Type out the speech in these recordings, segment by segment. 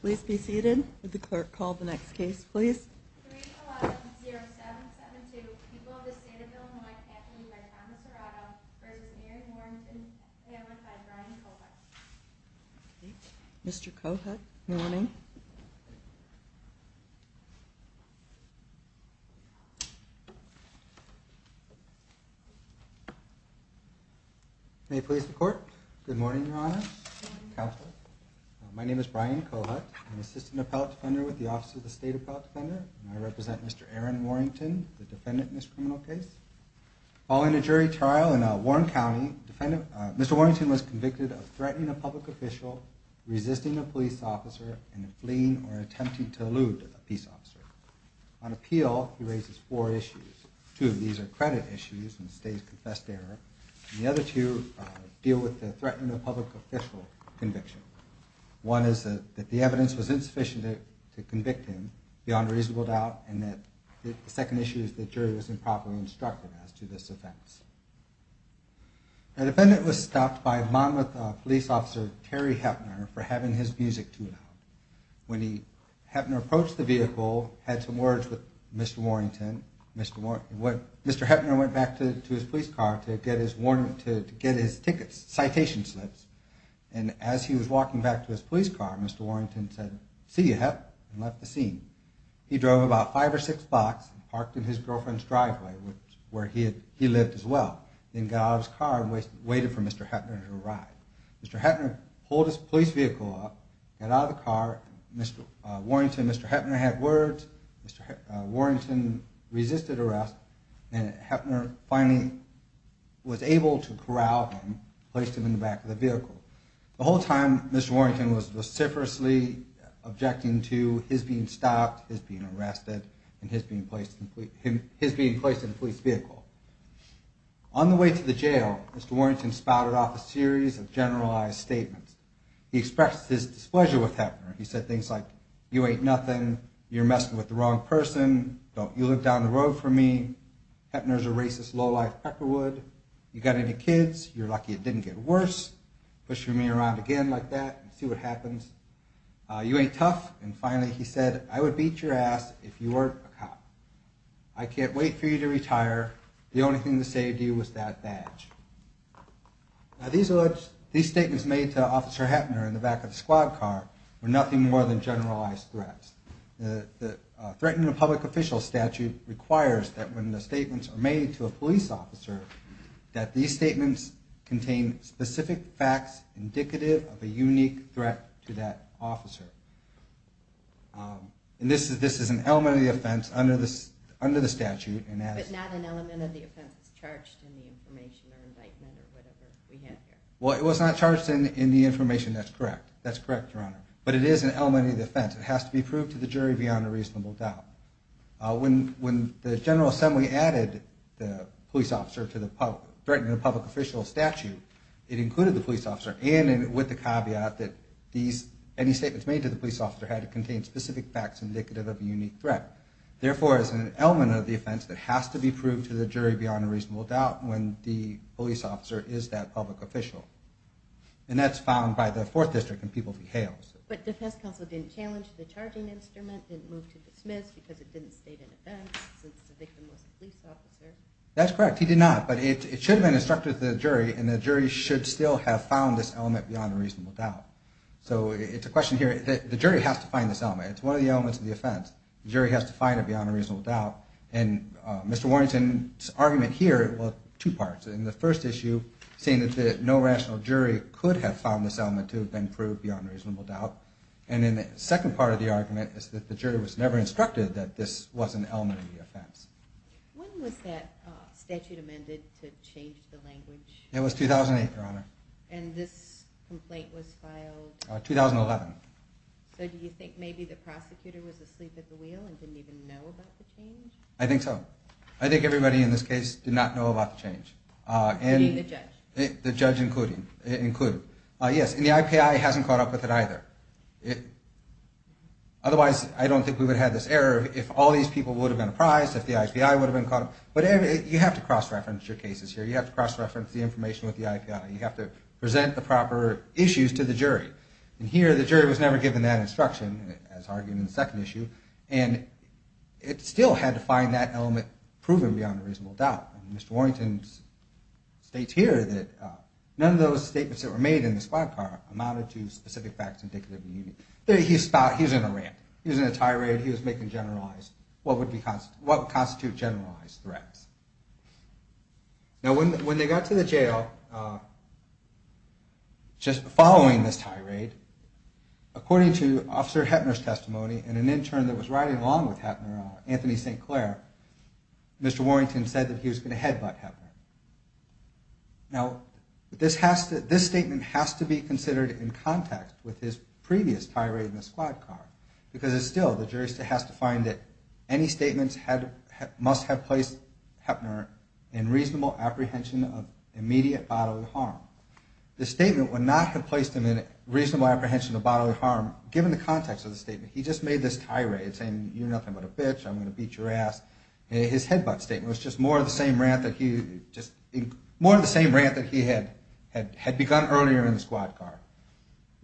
Please be seated. The clerk called the next case, please. 3.0772 People of the State of Illinois Counseling by Thomas Arado v. Mary Warrington, and run by Brian Cohut. Mr. Cohut, good morning. May it please the court. Good morning, Your Honor, Counsel. My name is Brian Cohut. I'm an Assistant Appellate Defender with the Office of the State Appellate Defender. I represent Mr. Aaron Warrington, the defendant in this criminal case. Following a jury trial in Warren County, Mr. Warrington was convicted of threatening a public official, resisting a police officer, and fleeing or attempting to elude a peace officer. On appeal, he raises four issues. Two of these are credit issues and state-confessed error, and the other two deal with the threatening of a public official conviction. One is that the evidence was insufficient to convict him beyond reasonable doubt, and the second issue is that the jury was improperly instructed as to this offense. The defendant was stopped by Monmouth Police Officer Terry Heppner for having his music too loud. When Heppner approached the vehicle, he had some words with Mr. Warrington. Mr. Heppner went back to his police car to get his tickets, citation slips, and as he was walking back to his police car, Mr. Warrington said, See ya, Hepp, and left the scene. He drove about five or six blocks and parked in his girlfriend's driveway, where he lived as well, then got out of his car and waited for Mr. Heppner to arrive. Mr. Heppner pulled his police vehicle up, got out of the car, Mr. Warrington and Mr. Heppner had words, Mr. Warrington resisted arrest, and Heppner finally was able to corral him, placed him in the back of the vehicle. The whole time, Mr. Warrington was vociferously objecting to his being stopped, his being arrested, and his being placed in a police vehicle. On the way to the jail, Mr. Warrington spouted off a series of generalized statements. He expressed his displeasure with Heppner. He said things like, You ain't nothing. You're messing with the wrong person. Don't you look down the road from me. Heppner's a racist, lowlife peckerwood. You got any kids? You're lucky it didn't get worse. Pushing me around again like that, see what happens. You ain't tough. And finally he said, I would beat your ass if you weren't a cop. I can't wait for you to retire. The only thing that saved you was that badge. These statements made to Officer Heppner in the back of the squad car were nothing more than generalized threats. The Threatening a Public Official Statute requires that when the statements are made to a police officer, that these statements contain specific facts indicative of a unique threat to that officer. And this is an element of the offense under the statute. But not an element of the offense that's charged in the information or indictment or whatever we have here. Well, it was not charged in the information, that's correct. That's correct, Your Honor. But it is an element of the offense. It has to be proved to the jury beyond a reasonable doubt. When the General Assembly added the police officer to the Threatening a Public Official Statute, it included the police officer and with the caveat that any statements made to the police officer had to contain specific facts indicative of a unique threat. Therefore, it's an element of the offense that has to be proved to the jury beyond a reasonable doubt when the police officer is that public official. And that's found by the Fourth District and people he hails. But defense counsel didn't challenge the charging instrument, didn't move to dismiss because it didn't state an offense since the victim was a police officer? That's correct. He did not. But it should have been instructed to the jury and the jury should still have found this element beyond a reasonable doubt. So it's a question here, the jury has to find this element. It's one of the elements of the offense. The jury has to find it beyond a reasonable doubt. And Mr. Warrington's argument here, well, two parts. In the first issue, saying that no rational jury could have found this element to have been proved beyond a reasonable doubt. And then the second part of the argument is that the jury was never instructed that this was an element of the offense. When was that statute amended to change the language? It was 2008, Your Honor. And this complaint was filed? 2011. So do you think maybe the prosecutor was asleep at the wheel and didn't even know about the change? I think so. I think everybody in this case did not know about the change. Including the judge? The judge included. Yes, and the IPI hasn't caught up with it either. Otherwise, I don't think we would have had this error if all these people would have been apprised, if the IPI would have been caught up. But you have to cross-reference your cases here. You have to cross-reference the information with the IPI. You have to present the proper issues to the jury. And here, the jury was never given that instruction, as argued in the second issue. And it still had to find that element proven beyond a reasonable doubt. And Mr. Warrington states here that none of those statements that were made in the squad car amounted to specific facts indicative of the unit. He was in a rant. He was in a tirade. He was making generalized, what would constitute generalized threats. Now when they got to the jail, just following this tirade, according to Officer Hettner's testimony, and an intern that was riding along with Hettner, Anthony St. Clair, Mr. Warrington said that he was going to headbutt Hettner. Now, this statement has to be considered in context with his previous tirade in the squad car. Because still, the jury has to find that any statements must have placed Hettner in reasonable apprehension of immediate bodily harm. This statement would not have placed him in reasonable apprehension of bodily harm, given the context of the statement. He just made this tirade, saying, you're nothing but a bitch, I'm going to beat your ass. His headbutt statement was just more of the same rant that he had begun earlier in the squad car.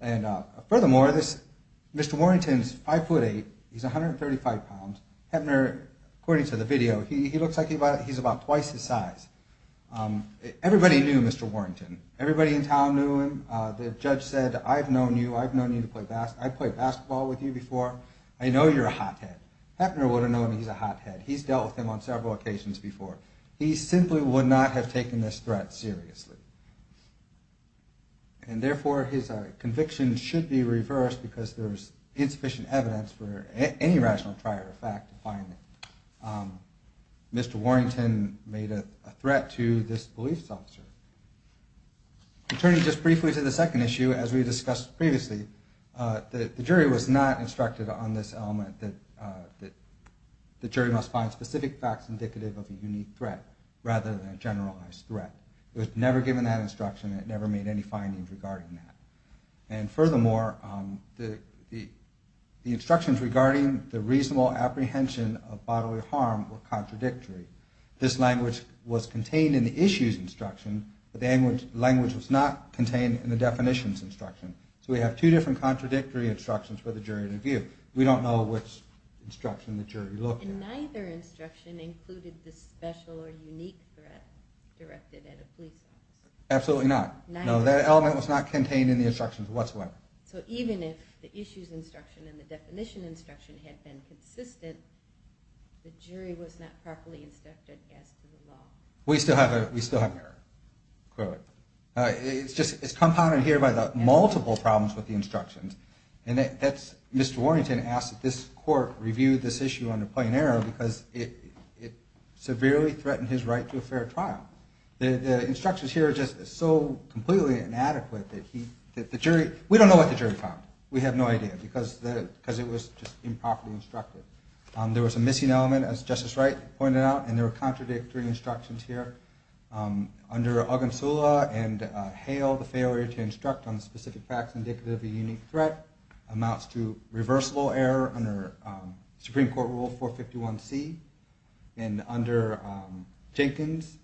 And furthermore, Mr. Warrington is 5'8", he's 135 pounds. Hettner, according to the video, he looks like he's about twice his size. Everybody knew Mr. Warrington. Everybody in town knew him. The judge said, I've known you, I've known you to play basketball with you before. I know you're a hothead. Hettner would have known he's a hothead. He's dealt with him on several occasions before. He simply would not have taken this threat seriously. And therefore, his conviction should be reversed because there's insufficient evidence for any rational triad effect to find him. Mr. Warrington made a threat to this police officer. Turning just briefly to the second issue, as we discussed previously, the jury was not instructed on this element that the jury must find specific facts indicative of a unique threat, rather than a generalized threat. It was never given that instruction. It never made any findings regarding that. And furthermore, the instructions regarding the reasonable apprehension of bodily harm were contradictory. This language was contained in the issue's instruction, but the language was not contained in the definition's instruction. So we have two different contradictory instructions for the jury to view. We don't know which instruction the jury looked at. And neither instruction included the special or unique threat directed at a police officer? Absolutely not. No, that element was not contained in the instructions whatsoever. So even if the issue's instruction and the definition's instruction had been consistent, the jury was not properly instructed as to the law? We still have an error. It's compounded here by the multiple problems with the instructions. Mr. Warrington asked that this court review this issue under plain error because it severely threatened his right to a fair trial. The instructions here are just so completely inadequate that we don't know what the jury found. We have no idea because it was just improperly instructed. There was a missing element, as Justice Wright pointed out, and there were contradictory instructions here. Under Ogunsula and Hale, the failure to instruct on specific facts indicative of a unique threat amounts to reversible error under Supreme Court Rule 451C. And under Jenkins,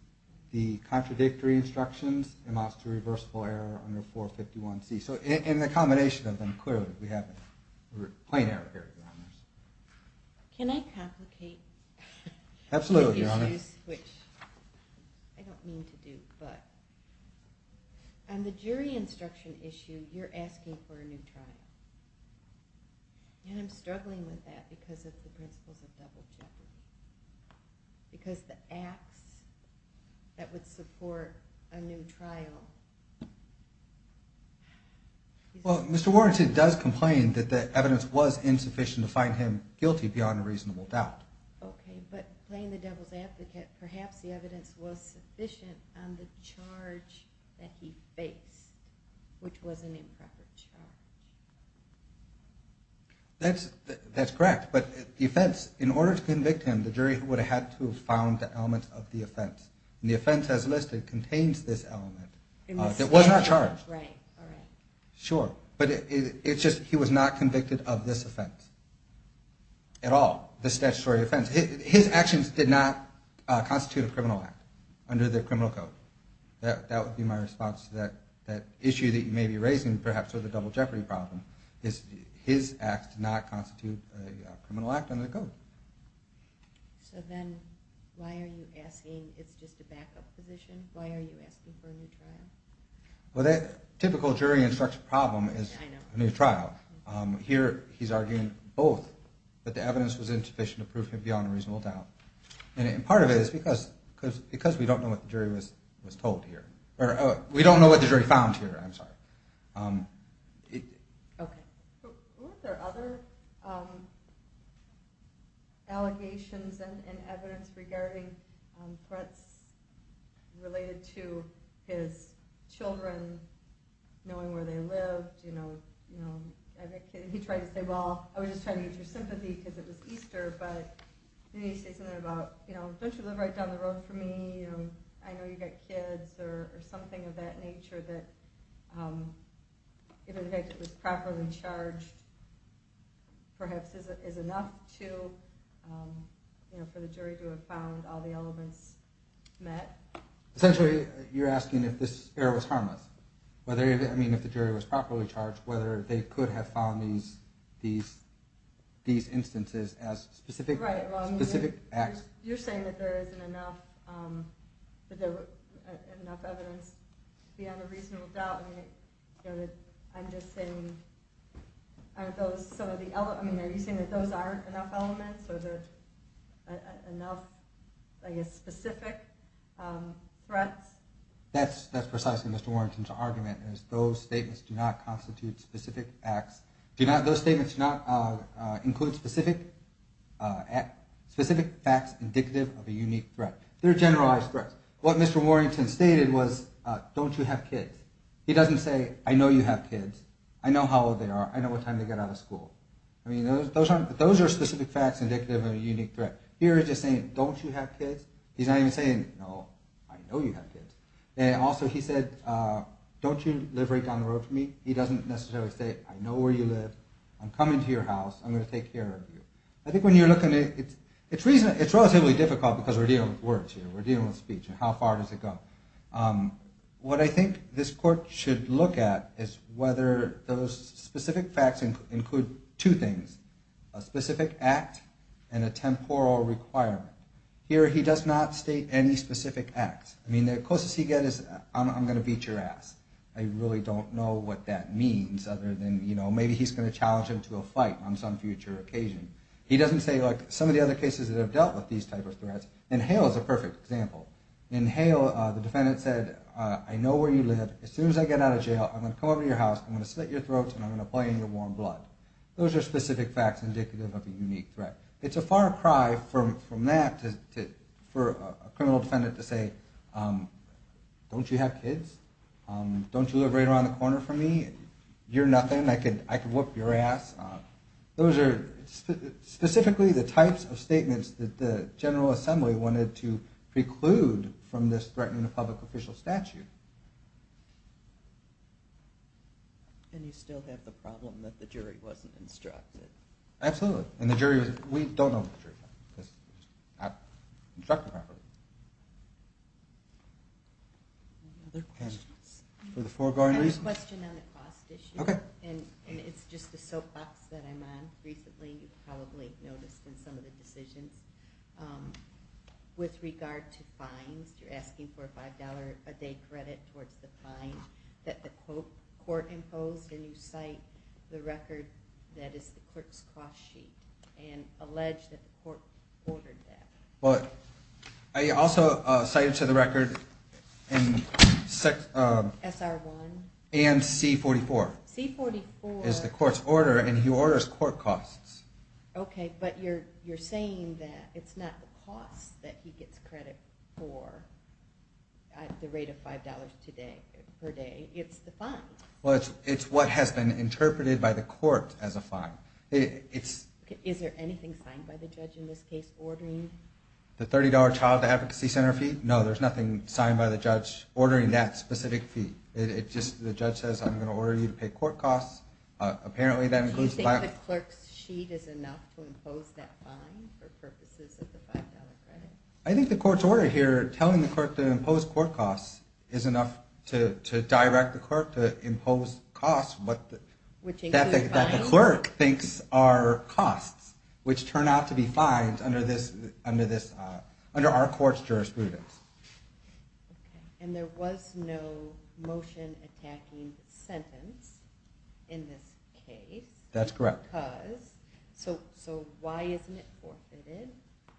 the contradictory instructions amounts to reversible error under 451C. So in the combination of them, clearly, we have a plain error here, Your Honors. Can I complicate the issues? Absolutely, Your Honors. Which I don't mean to do, but on the jury instruction issue, you're asking for a new trial. And I'm struggling with that because of the principles of double jeopardy. Because the acts that would support a new trial... Well, Mr. Warrington does complain that the evidence was insufficient to find him guilty beyond a reasonable doubt. Okay, but playing the devil's advocate, perhaps the evidence was sufficient on the charge that he faced, which was an improper charge. That's correct. But the offense, in order to convict him, the jury would have had to have found the element of the offense. And the offense as listed contains this element. It was not charged. Sure, but it's just he was not convicted of this offense at all, this statutory offense. His actions did not constitute a criminal act under the criminal code. That would be my response to that issue that you may be raising, perhaps with the double jeopardy problem. His acts did not constitute a criminal act under the code. So then why are you asking, it's just a backup position, why are you asking for a new trial? Well, the typical jury instruction problem is a new trial. Here he's arguing both, that the evidence was insufficient to prove him beyond a reasonable doubt. And part of it is because we don't know what the jury was told here. We don't know what the jury found here, I'm sorry. Were there other allegations and evidence regarding threats related to his children knowing where they lived? He tried to say, well, I was just trying to get your sympathy because it was Easter, but you need to say something about, don't you live right down the road from me? I know you've got kids or something of that nature that, even if it was properly charged, perhaps is enough for the jury to have found all the elements met. Essentially, you're asking if this error was harmless. I mean, if the jury was properly charged, whether they could have found these instances as specific acts. You're saying that there isn't enough evidence beyond a reasonable doubt. I'm just saying, are you saying that those aren't enough elements? Are there enough, I guess, specific threats? That's precisely Mr. Warrington's argument. Those statements do not include specific facts indicative of a unique threat. They're generalized threats. What Mr. Warrington stated was, don't you have kids? He doesn't say, I know you have kids. I know how old they are. I know what time they get out of school. Those are specific facts indicative of a unique threat. Here he's just saying, don't you have kids? He's not even saying, no, I know you have kids. Also, he said, don't you live right down the road from me? He doesn't necessarily say, I know where you live. I'm coming to your house. I'm going to take care of you. I think when you're looking at it, it's relatively difficult because we're dealing with words here. We're dealing with speech. How far does it go? What I think this court should look at is whether those specific facts include two things, a specific act and a temporal requirement. Here he does not state any specific acts. I mean, the closest he gets is, I'm going to beat your ass. I really don't know what that means other than, you know, maybe he's going to challenge him to a fight on some future occasion. He doesn't say, look, some of the other cases that have dealt with these types of threats. And Hale is a perfect example. In Hale, the defendant said, I know where you live. As soon as I get out of jail, I'm going to come over to your house, I'm going to slit your throats, and I'm going to play in your warm blood. Those are specific facts indicative of a unique threat. It's a far cry from that for a criminal defendant to say, don't you have kids? Don't you live right around the corner from me? You're nothing. I could whoop your ass. Those are specifically the types of statements that the General Assembly wanted to preclude from this threatening of public official statute. And you still have the problem that the jury wasn't instructed. Absolutely. And the jury, we don't know what the jury found. It's not instructed properly. Any other questions? For the foregoing reasons? I have a question on the cost issue. Okay. And it's just the soapbox that I'm on. Recently, you've probably noticed in some of the decisions. With regard to fines, you're asking for a $5 a day credit towards the fine that the court imposed, and you cite the record that is the clerk's cost sheet and allege that the court ordered that. Well, I also cited to the record and C-44 is the court's order, and he orders court costs. Okay, but you're saying that it's not the cost that he gets credit for at the rate of $5 per day. It's the fine. Well, it's what has been interpreted by the court as a fine. Is there anything signed by the judge in this case ordering? The $30 child advocacy center fee? No, there's nothing signed by the judge ordering that specific fee. It's just the judge says, I'm going to order you to pay court costs. Apparently, that includes that. Do you think the clerk's sheet is enough to impose that fine for purposes of the $5 credit? I think the court's order here telling the clerk to impose court costs is enough to direct the clerk to impose costs that the clerk thinks are costs, which turn out to be fines under our court's jurisprudence. And there was no motion attacking sentence in this case. That's correct. So why isn't it forfeited?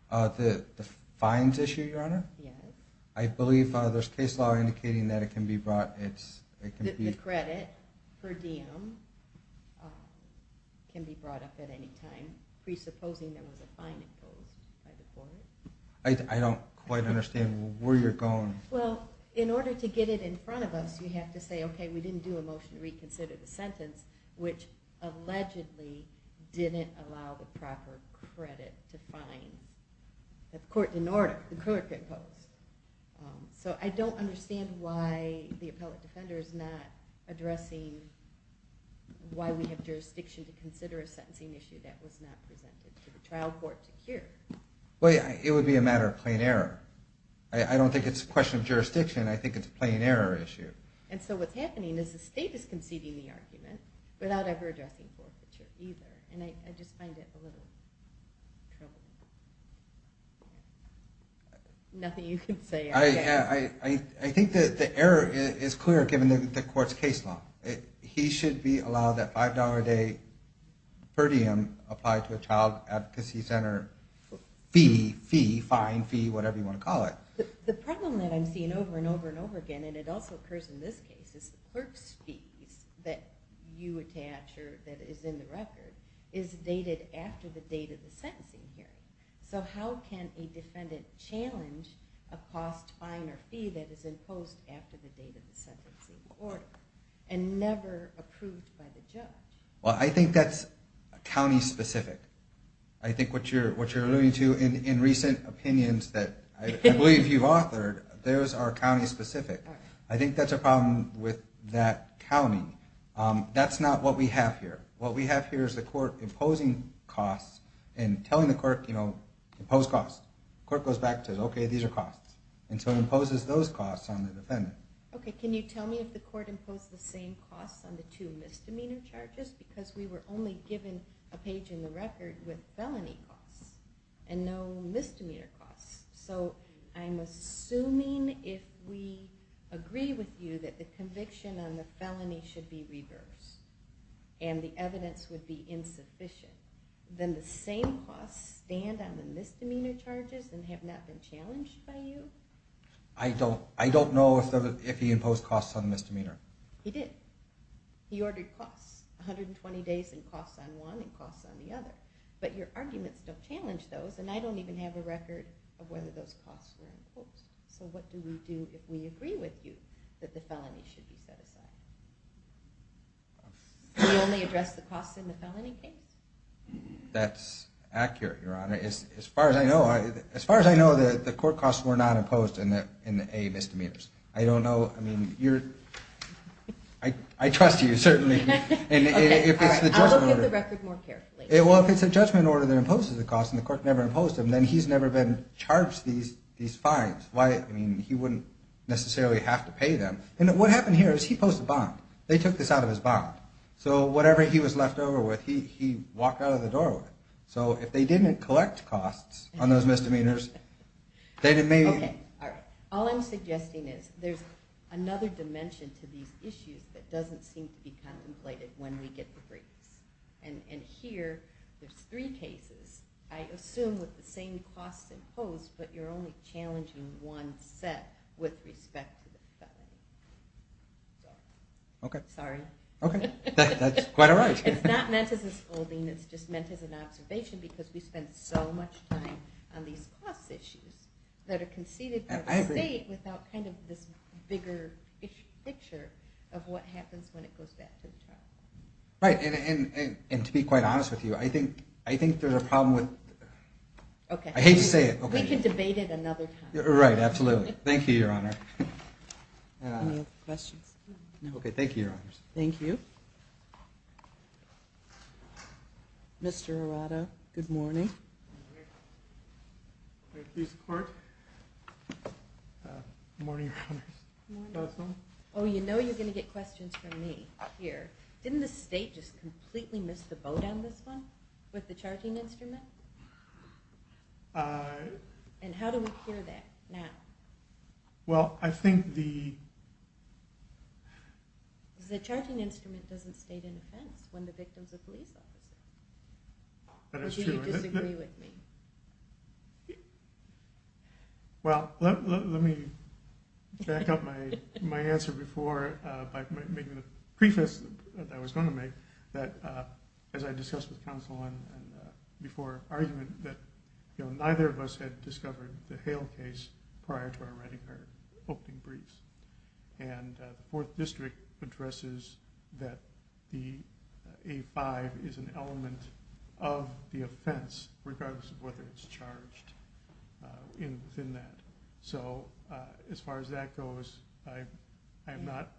The fines issue, Your Honor? Yes. I believe there's case law indicating that it can be brought. The credit per diem can be brought up at any time presupposing there was a fine imposed by the court. I don't quite understand where you're going. Well, in order to get it in front of us, you have to say, okay, we didn't do a motion to reconsider the sentence, which allegedly didn't allow the proper credit to fine. The court didn't order. The clerk didn't impose. So I don't understand why the appellate defender is not addressing why we have jurisdiction to consider a sentencing issue that was not presented to the trial court to hear. Well, it would be a matter of plain error. I don't think it's a question of jurisdiction. I think it's a plain error issue. And so what's happening is the state is conceding the argument without ever addressing forfeiture either. And I just find it a little troubling. Nothing you can say. I think that the error is clear given the court's case law. He should be allowed that $5 a day per diem applied to a child advocacy center fee, fine, fee, whatever you want to call it. The problem that I'm seeing over and over and over again, and it also occurs in this case, is the clerk's fees that you attach or that is in the record is dated after the date of the sentencing hearing. So how can a defendant challenge a cost fine or fee that is imposed after the date of the sentencing order and never approved by the judge? Well, I think that's county specific. I think what you're alluding to in recent opinions that I believe you've authored, those are county specific. I think that's a problem with that county. That's not what we have here. What we have here is the court imposing costs and telling the court, you know, impose costs. The court goes back and says, okay, these are costs. And so it imposes those costs on the defendant. Okay, can you tell me if the court imposed the same costs on the two misdemeanor charges? Because we were only given a page in the record with felony costs and no misdemeanor costs. So I'm assuming if we agree with you that the conviction on the felony should be reversed and the evidence would be insufficient, then the same costs stand on the misdemeanor charges and have not been challenged by you? I don't know if he imposed costs on the misdemeanor. He did. He ordered costs, 120 days and costs on one and costs on the other. But your arguments don't challenge those, and I don't even have a record of whether those costs were imposed. So what do we do if we agree with you that the felony should be set aside? Do we only address the costs in the felony case? That's accurate, Your Honor. As far as I know, the court costs were not imposed in the A misdemeanors. I don't know. I mean, I trust you, certainly. Okay, I'll look at the record more carefully. Well, if it's a judgment order that imposes the costs and the court never imposed them, then he's never been charged these fines. I mean, he wouldn't necessarily have to pay them. And what happened here is he posted a bond. They took this out of his bond. So whatever he was left over with, he walked out of the door with. So if they didn't collect costs on those misdemeanors, they may... Okay, all right. All I'm suggesting is there's another dimension to these issues that doesn't seem to be contemplated when we get the briefs. And here, there's three cases. I assume with the same costs imposed, but you're only challenging one set with respect to the felony. Okay. Sorry. Okay. That's quite all right. It's not meant as a scolding. It's just meant as an observation because we spend so much time on these cost issues that are conceded by the state without kind of this bigger picture of what happens when it goes back to the child. Right. And to be quite honest with you, I think there's a problem with... Okay. I hate to say it. We can debate it another time. Right, absolutely. Thank you, Your Honor. Any other questions? No. Okay, thank you, Your Honors. Thank you. Mr. Arado, good morning. Thank you, Your Honor. Good morning, Your Honors. Good morning. Oh, you know you're going to get questions from me here. Didn't the state just completely miss the boat on this one with the charting instrument? And how do we cure that now? Well, I think the... The charting instrument doesn't state an offense when the victim's a police officer. That is true. Or do you disagree with me? Well, let me back up my answer before by making the preface that I was going to make, that as I discussed with counsel and before, argument that neither of us had discovered the Hale case prior to our writing our opening briefs. And the Fourth District addresses that the A-5 is an element of the offense, regardless of whether it's charged within that. So as far as that goes, I am not...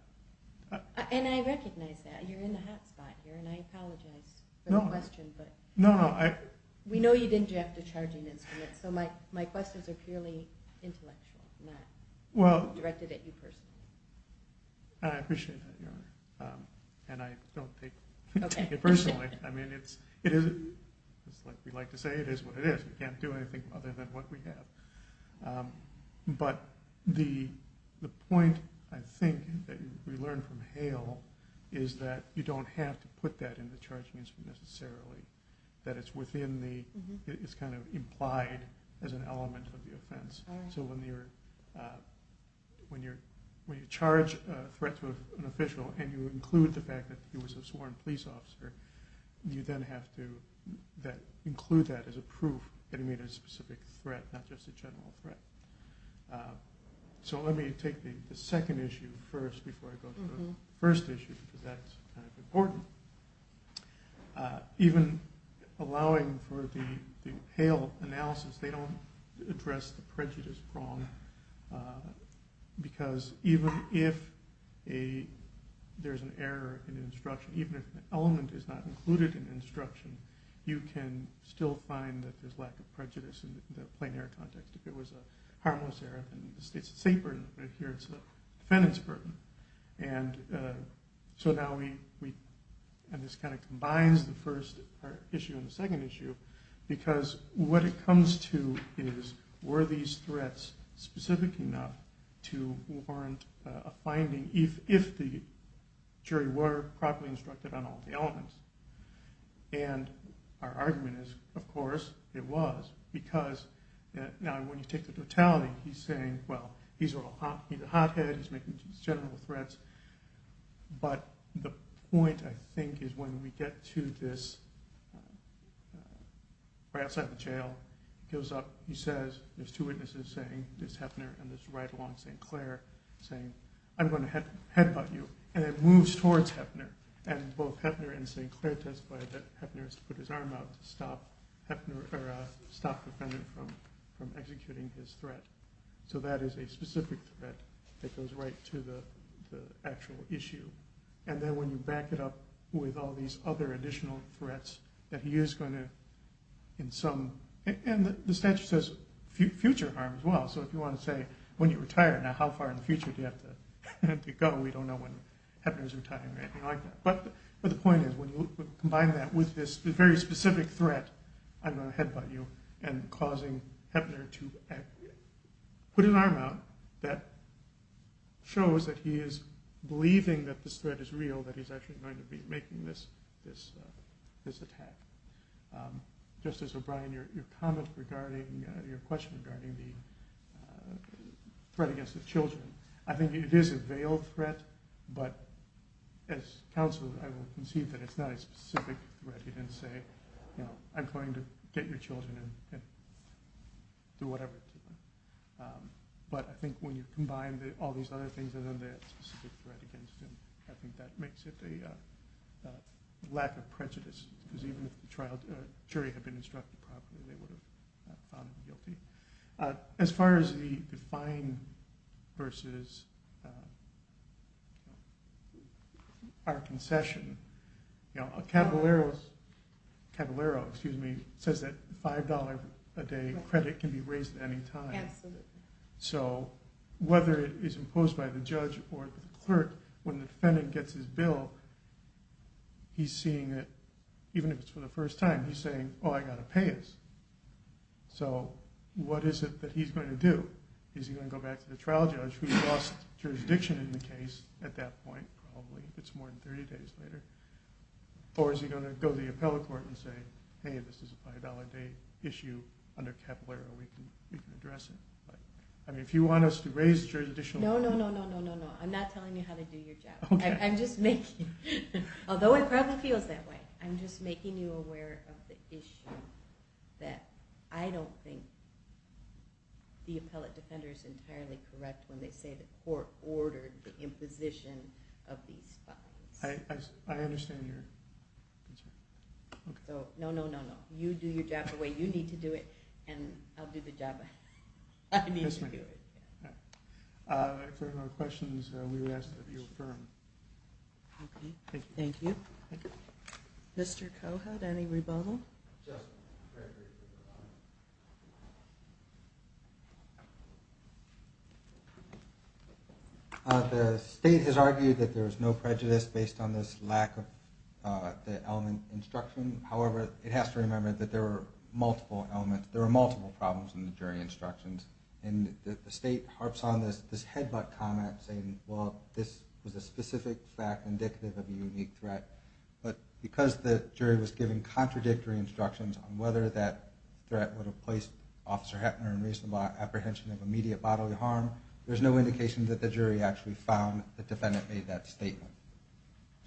And I recognize that. You're in the hot spot here, and I apologize for the question. No, no, I... We know you didn't draft a charging instrument, so my questions are purely intellectual, not directed at you personally. I appreciate that, Your Honor. And I don't take it personally. I mean, it's like we like to say, it is what it is. We can't do anything other than what we have. But the point, I think, that we learned from Hale is that you don't have to put that in the charging instrument necessarily, that it's kind of implied as an element of the offense. So when you charge a threat to an official and you include the fact that he was a sworn police officer, you then have to include that as a proof that he made a specific threat, not just a general threat. So let me take the second issue first before I go to the first issue, because that's kind of important. Even allowing for the Hale analysis, they don't address the prejudice prong, because even if there's an error in the instruction, even if the element is not included in the instruction, you can still find that there's lack of prejudice in the plain error context. If it was a harmless error, it's a state burden, but here it's a defendant's burden. So now this kind of combines the first issue and the second issue, because what it comes to is, were these threats specific enough to warrant a finding if the jury were properly instructed on all the elements? And our argument is, of course it was, because now when you take the totality, he's saying, well, he's a hothead, he's making general threats, but the point, I think, is when we get to this, right outside the jail, he goes up, he says, there's two witnesses saying, there's Hefner and there's right along St. Clair, saying, I'm going to headbutt you, and then moves towards Hefner, and both Hefner and St. Clair testify that Hefner has to put his arm out to stop the defendant from executing his threat. So that is a specific threat that goes right to the actual issue. And then when you back it up with all these other additional threats, that he is going to, in some, and the statute says future harm as well, so if you want to say, when you retire, now how far in the future do you have to go? We don't know when Hefner's retiring or anything like that. But the point is, when you combine that with this very specific threat, I'm going to headbutt you, and causing Hefner to put an arm out that shows that he is believing that this threat is real, that he's actually going to be making this attack. Justice O'Brien, your comment regarding, your question regarding the threat against the children, I think it is a veiled threat, but as counsel I will concede that it's not a specific threat. You can say, I'm going to get your children and do whatever to them. But I think when you combine all these other things and then the specific threat against him, I think that makes it a lack of prejudice, because even if the jury had been instructed properly, they would have found him guilty. As far as the fine versus our concession, Caballero says that $5 a day credit can be raised at any time. So whether it is imposed by the judge or the clerk, when the defendant gets his bill, he's seeing it, even if it's for the first time, he's saying, oh, I've got to pay this. So what is it that he's going to do? Is he going to go back to the trial judge, who lost jurisdiction in the case at that point, it's more than 30 days later, or is he going to go to the appellate court and say, hey, this is a $5 a day issue under Caballero, we can address it? I mean, if you want us to raise additional money. No, no, no, no, no, no. I'm not telling you how to do your job. Although it probably feels that way, I'm just making you aware of the issue that I don't think the appellate defender is entirely correct when they say the court ordered the imposition of these fines. I understand your concern. No, no, no, no. You do your job the way you need to do it, and I'll do the job I need to do it. For questions, we would ask that you affirm. Thank you. Mr. Cohut, any rebuttal? Just prejudice. The state has argued that there is no prejudice based on this lack of the element instruction. However, it has to remember that there are multiple elements, there are multiple problems in the jury instructions, and the state harps on this headbutt comment saying, well, this was a specific fact indicative of a unique threat. But because the jury was giving contradictory instructions on whether that threat would have placed Officer Hetner in reasonable apprehension of immediate bodily harm, there's no indication that the jury actually found the defendant made that statement.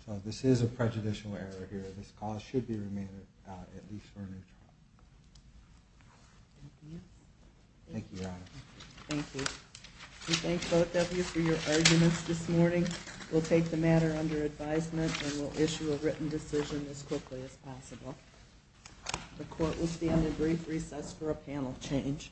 So this is a prejudicial error here. This cause should be remanded, at least for a new trial. Thank you, Your Honor. Thank you. We thank both of you for your arguments this morning. We'll take the matter under advisement and we'll issue a written decision as quickly as possible. The court will stand in brief recess for a panel change.